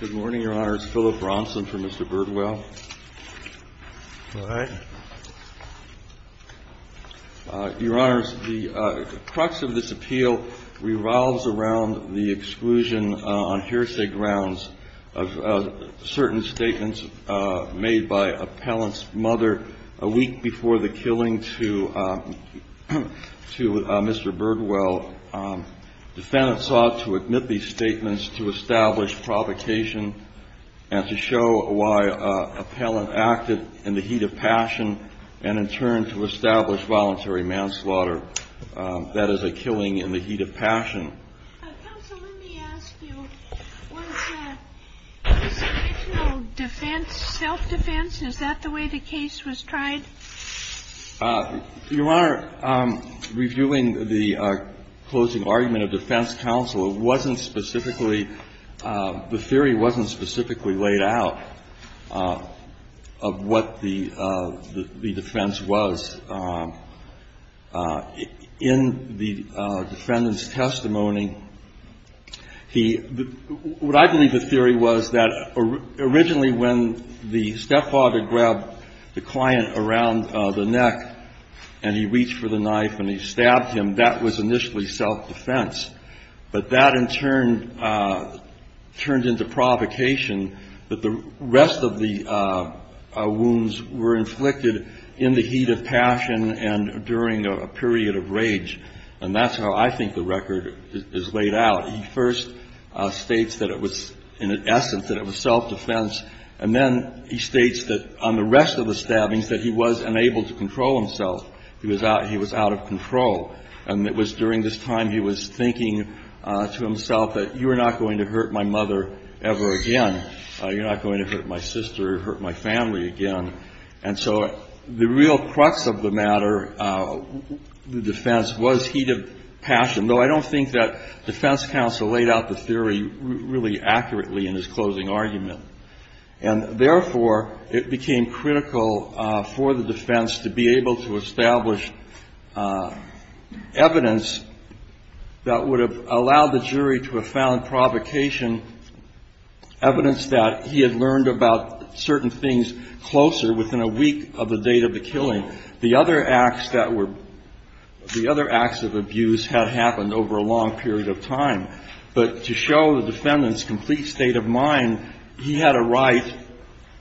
Good morning, Your Honor. It's Philip Bronson for Mr. Birdwell. All right. Your Honor, the crux of this appeal revolves around the exclusion on hearsay grounds of certain statements made by a parent's mother a week before the killing to Mr. Birdwell. Defendants sought to admit these statements to establish provocation and to show why a parent acted in the heat of passion and in turn to establish voluntary manslaughter. That is a killing in the heat of passion. Counsel, let me ask you, was that intentional defense, self-defense? Is that the way the case was tried? Your Honor, reviewing the closing argument of defense counsel, it wasn't specifically, the theory wasn't specifically laid out of what the defense was. But in the defendant's testimony, he, what I believe the theory was that originally when the stepfather grabbed the client around the neck and he reached for the knife and he stabbed him, that was initially self-defense. But that in turn turned into provocation that the rest of the wounds were inflicted in the heat of passion and during a period of rage. And that's how I think the record is laid out. He first states that it was in essence that it was self-defense. And then he states that on the rest of the stabbings that he was unable to control himself. He was out of control. And it was during this time he was thinking to himself that you are not going to hurt my mother ever again. You're not going to hurt my sister or hurt my family again. And so the real crux of the matter, the defense, was heat of passion, though I don't think that defense counsel laid out the theory really accurately in his closing argument. And therefore, it became critical for the defense to be able to establish evidence that would have allowed the jury to have found provocation, evidence that he had learned about certain things closer within a week of the date of the killing. The other acts that were, the other acts of abuse had happened over a long period of time. But to show the defendant's complete state of mind, he had a right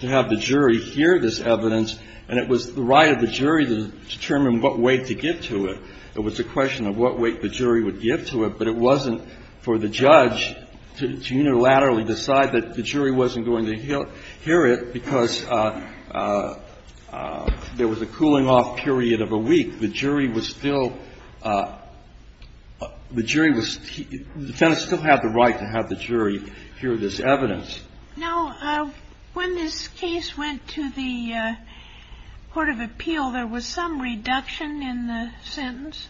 to have the jury hear this evidence. And it was the right of the jury to determine what weight to give to it. It was a question of what weight the jury would give to it. But it wasn't for the judge to unilaterally decide that the jury wasn't going to hear it because there was a cooling-off period of a week. The jury was still, the jury was, the defendant still had the right to have the jury hear this evidence. Now, when this case went to the court of appeal, there was some reduction in the sentence?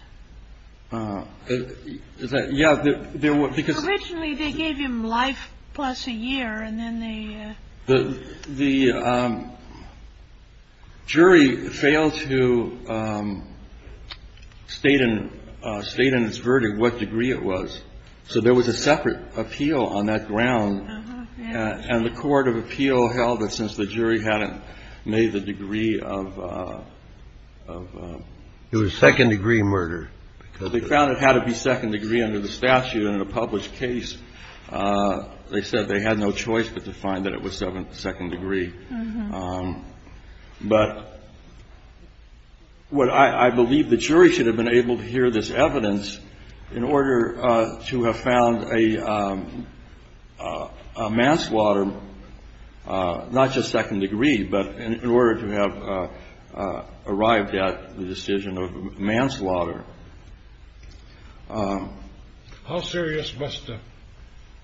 Yeah, there was. Because originally they gave him life plus a year and then they. The jury failed to state in its verdict what degree it was. So there was a separate appeal on that ground. And the court of appeal held that since the jury hadn't made the degree of. It was second-degree murder. They found it had to be second-degree under the statute. And in a published case, they said they had no choice but to find that it was second-degree. But I believe the jury should have been able to hear this evidence in order to have found a manslaughter, not just second-degree, but in order to have arrived at the decision of manslaughter. How serious must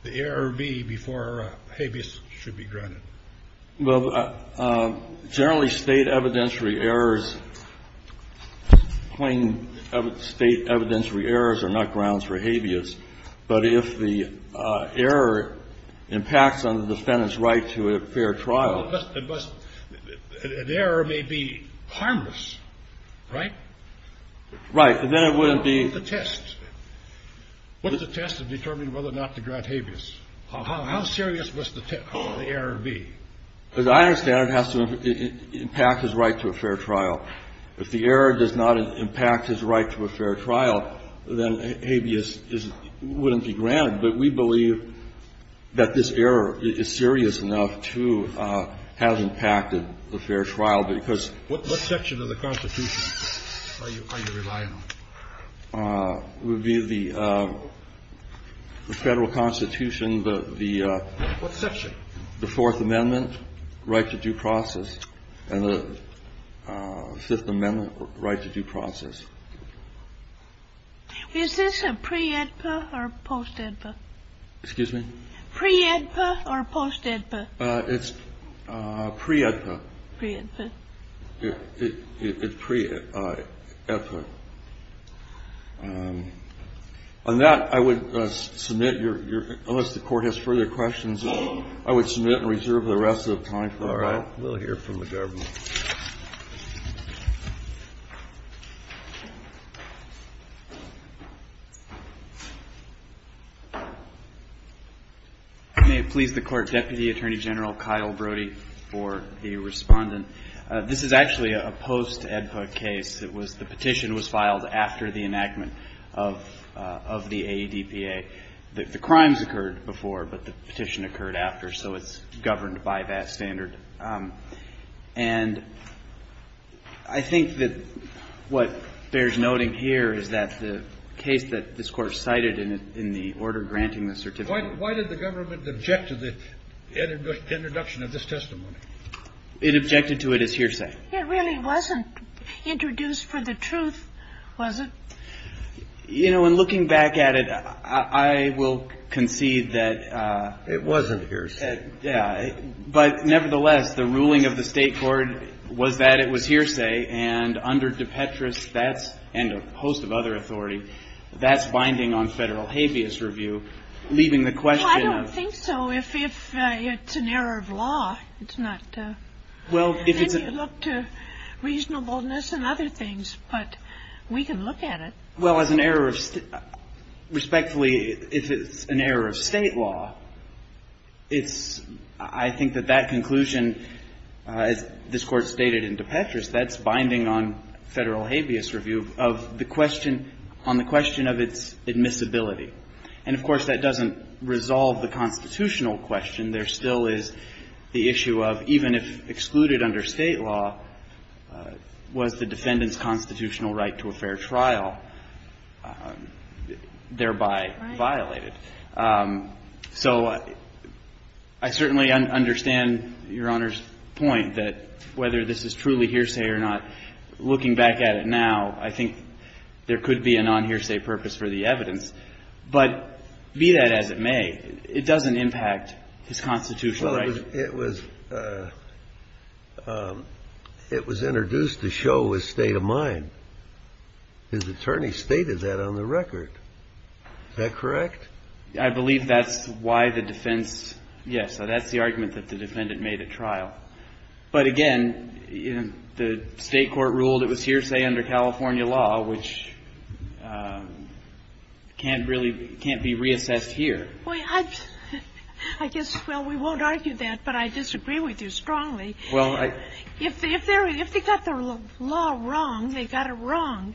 the error be before habeas should be granted? Well, generally State evidentiary errors, plain State evidentiary errors are not grounds for habeas. But if the error impacts on the defendant's right to a fair trial. But an error may be harmless, right? Right. And then it wouldn't be. What's the test? What's the test of determining whether or not to grant habeas? How serious must the error be? As I understand it, it has to impact his right to a fair trial. If the error does not impact his right to a fair trial, then habeas wouldn't be granted. But we believe that this error is serious enough to have impacted the fair trial because. What section of the Constitution are you relying on? The Federal Constitution, the. What section? The Fourth Amendment right to due process and the Fifth Amendment right to due process. Is this a pre-EDPA or post-EDPA? Excuse me? Pre-EDPA or post-EDPA? It's pre-EDPA. Pre-EDPA. It's pre-EDPA. On that, I would submit your. Unless the Court has further questions, I would submit and reserve the rest of the time. We'll hear from the government. May it please the Court, Deputy Attorney General Kyle Brody for the respondent. This is actually a post-EDPA case. The petition was filed after the enactment of the AEDPA. The crimes occurred before, but the petition occurred after, so it's governed by that standard. And I think that what bears noting here is that the case that this Court cited in the order granting the certificate. Why did the government object to the introduction of this testimony? It objected to it as hearsay. It really wasn't introduced for the truth, was it? You know, in looking back at it, I will concede that. It wasn't hearsay. But nevertheless, the ruling of the State Court was that it was hearsay. And under DePetris and a host of other authority, that's binding on federal habeas review, leaving the question of. I don't think so. If it's an error of law, it's not. Then you look to reasonableness and other things, but we can look at it. Well, as an error of. Respectfully, if it's an error of State law, it's. I think that that conclusion, as this Court stated in DePetris, that's binding on federal habeas review of the question on the question of its admissibility. And, of course, that doesn't resolve the constitutional question. And there still is the issue of even if excluded under State law, was the defendant's constitutional right to a fair trial thereby violated? So I certainly understand Your Honor's point that whether this is truly hearsay or not, looking back at it now, I think there could be a nonhearsay purpose for the evidence. But be that as it may, it doesn't impact his constitutional right. It was. It was introduced to show his state of mind. His attorney stated that on the record. Is that correct? I believe that's why the defense. So that's the argument that the defendant made at trial. But, again, the State court ruled it was hearsay under California law, which can't really be reassessed here. I guess, well, we won't argue that, but I disagree with you strongly. Well, I. If they got the law wrong, they got it wrong.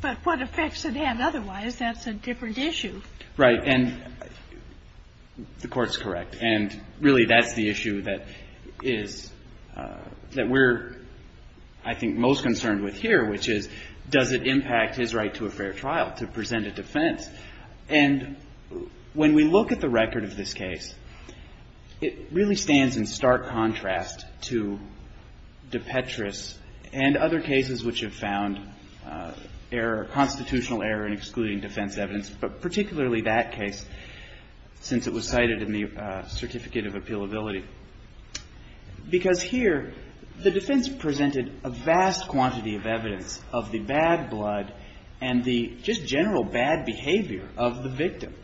But what effects it had otherwise, that's a different issue. Right. And the Court's correct. And really that's the issue that is, that we're, I think, most concerned with here, which is does it impact his right to a fair trial, to present a defense. And when we look at the record of this case, it really stands in stark contrast to DePetris and other cases which have found error, constitutional error in excluding defense evidence, but particularly that case, since it was cited in the Certificate of Appealability. Because here the defense presented a vast quantity of evidence of the bad blood and the just general bad behavior of the victim.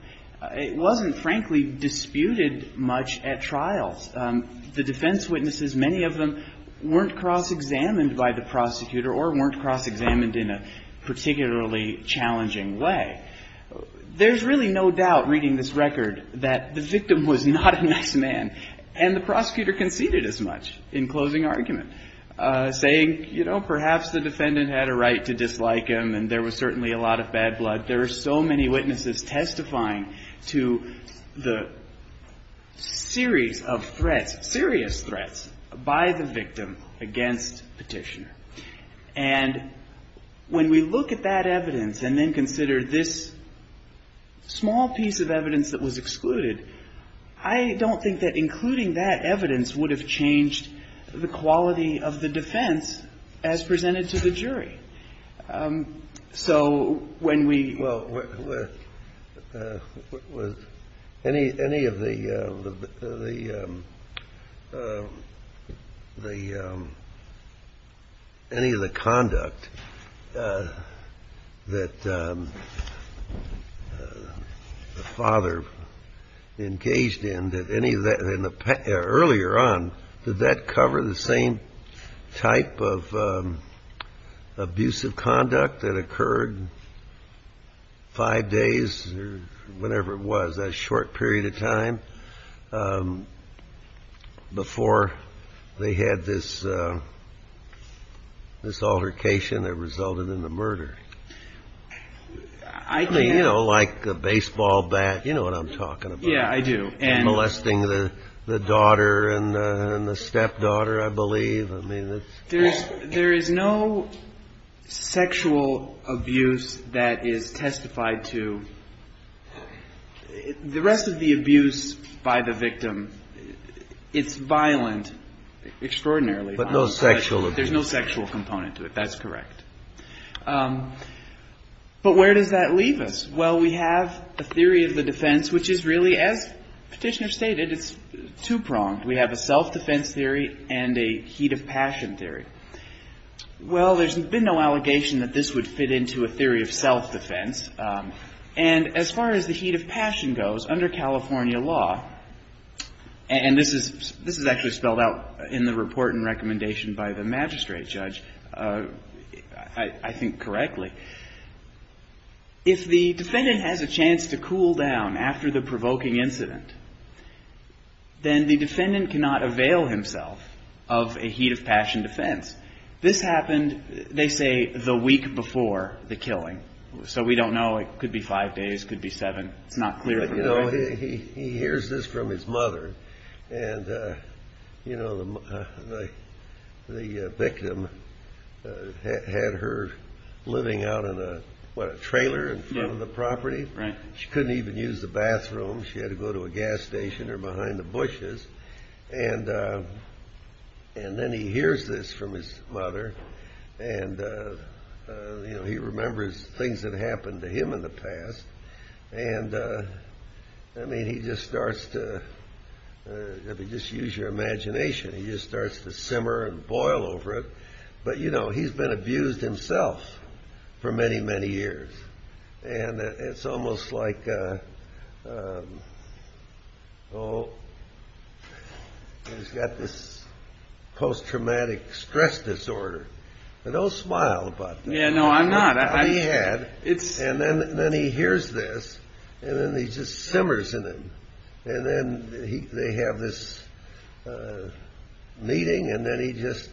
It wasn't, frankly, disputed much at trials. The defense witnesses, many of them, weren't cross-examined by the prosecutor or weren't cross-examined in a particularly challenging way. There's really no doubt, reading this record, that the victim was not a nice man. And the prosecutor conceded as much in closing argument, saying, you know, perhaps the defendant had a right to dislike him and there was certainly a lot of bad blood. There are so many witnesses testifying to the series of threats, serious threats, by the victim against Petitioner. And when we look at that evidence and then consider this small piece of evidence that was excluded, I don't think that including that evidence would have changed the quality of the defense as presented to the jury. So when we go with any of the conduct that the father engaged in, did any of that in the earlier on, did that cover the same type of behavior that the father engaged that occurred five days or whenever it was, a short period of time before they had this altercation that resulted in the murder? I mean, you know, like a baseball bat. You know what I'm talking about. Yeah, I do. And molesting the daughter and the stepdaughter, I believe. There is no sexual abuse that is testified to. The rest of the abuse by the victim, it's violent, extraordinarily violent. But no sexual abuse. There's no sexual component to it. That's correct. But where does that leave us? Well, we have the theory of the defense, which is really, as Petitioner stated, it's two-pronged. We have a self-defense theory and a heat of passion theory. Well, there's been no allegation that this would fit into a theory of self-defense. And as far as the heat of passion goes, under California law, and this is actually spelled out in the report and recommendation by the magistrate judge, I think correctly, if the defendant has a chance to cool down after the provoking incident, then the defendant cannot avail himself of a heat of passion defense. This happened, they say, the week before the killing. So we don't know. It could be five days. It could be seven. It's not clear. You know, he hears this from his mother. And, you know, the victim had her living out in a, what, a trailer in front of the property? Right. She couldn't even use the bathroom. She had to go to a gas station or behind the bushes. And then he hears this from his mother. And, you know, he remembers things that happened to him in the past. And, I mean, he just starts to, if you just use your imagination, he just starts to simmer and boil over it. But, you know, he's been abused himself for many, many years. And it's almost like, oh, he's got this post-traumatic stress disorder. But don't smile about that. Yeah, no, I'm not. He had. And then he hears this. And then he just simmers in it. And then they have this meeting. And then he just,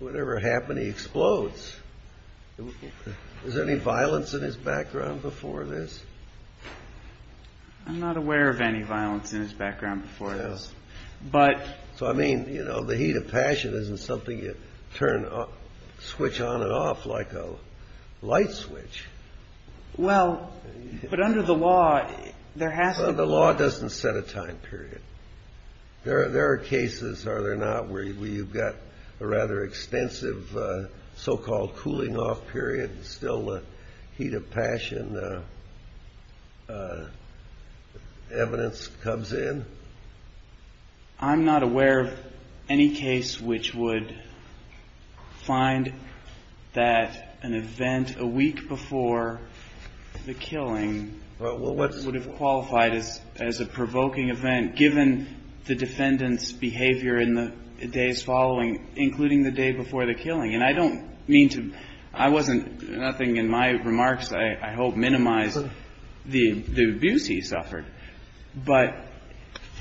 whatever happened, he explodes. Is there any violence in his background before this? I'm not aware of any violence in his background before this. But. So, I mean, you know, the heat of passion isn't something you turn, switch on and off like a light switch. Well, but under the law, there has to be. The law doesn't set a time period. There are cases, are there not, where you've got a rather extensive so-called cooling off period. Still the heat of passion. Evidence comes in. I'm not aware of any case which would find that an event a week before the killing. Would have qualified as as a provoking event, given the defendant's behavior in the days following, including the day before the killing. And I don't mean to. I wasn't nothing in my remarks. But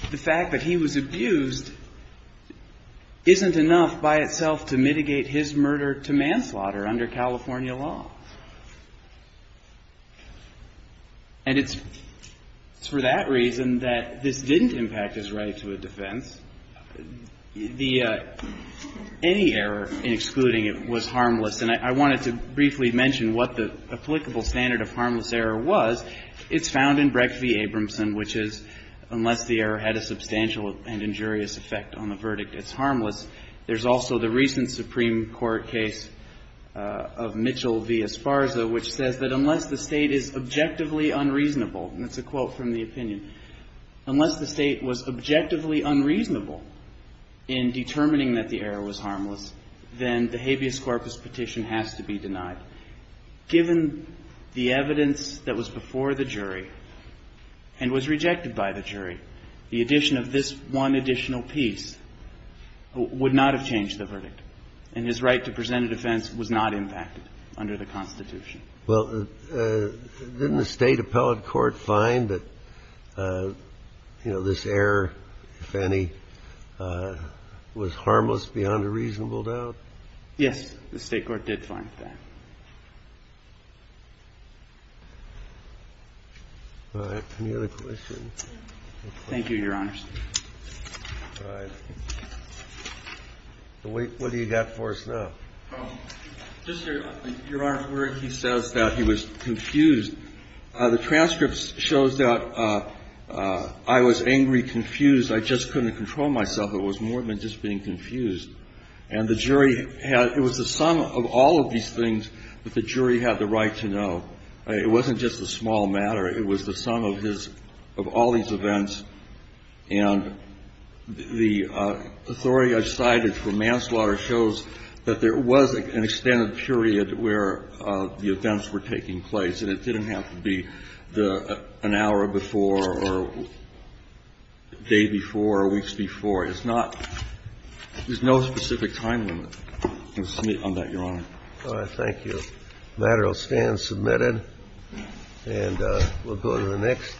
the fact that he was abused isn't enough by itself to mitigate his murder to manslaughter under California law. And it's for that reason that this didn't impact his right to a defense. The any error in excluding it was harmless. And I wanted to briefly mention what the applicable standard of harmless error was. It's found in Breck v. Abramson, which is unless the error had a substantial and injurious effect on the verdict, it's harmless. There's also the recent Supreme Court case of Mitchell v. Esparza, which says that unless the state is objectively unreasonable. And it's a quote from the opinion. Unless the state was objectively unreasonable in determining that the error was harmless, then the habeas corpus petition has to be denied. But given the evidence that was before the jury and was rejected by the jury, the addition of this one additional piece would not have changed the verdict. And his right to present a defense was not impacted under the Constitution. Well, didn't the State Appellate Court find that, you know, this error, if any, was harmless beyond a reasonable doubt? Yes, the State Court did find that. All right. Any other questions? Thank you, Your Honors. All right. What do you got for us now? Just, Your Honor, where he says that he was confused. The transcript shows that I was angry, confused. I just couldn't control myself. It was more than just being confused. And the jury had — it was the sum of all of these things that the jury had the right to know. It wasn't just a small matter. It was the sum of his — of all these events. And the authority I cited for manslaughter shows that there was an extended period where the events were taking place, and it didn't have to be the — an hour before or a day before or weeks before. It's not — there's no specific time limit on that, Your Honor. All right. Thank you. The matter will stand submitted, and we'll go to the next.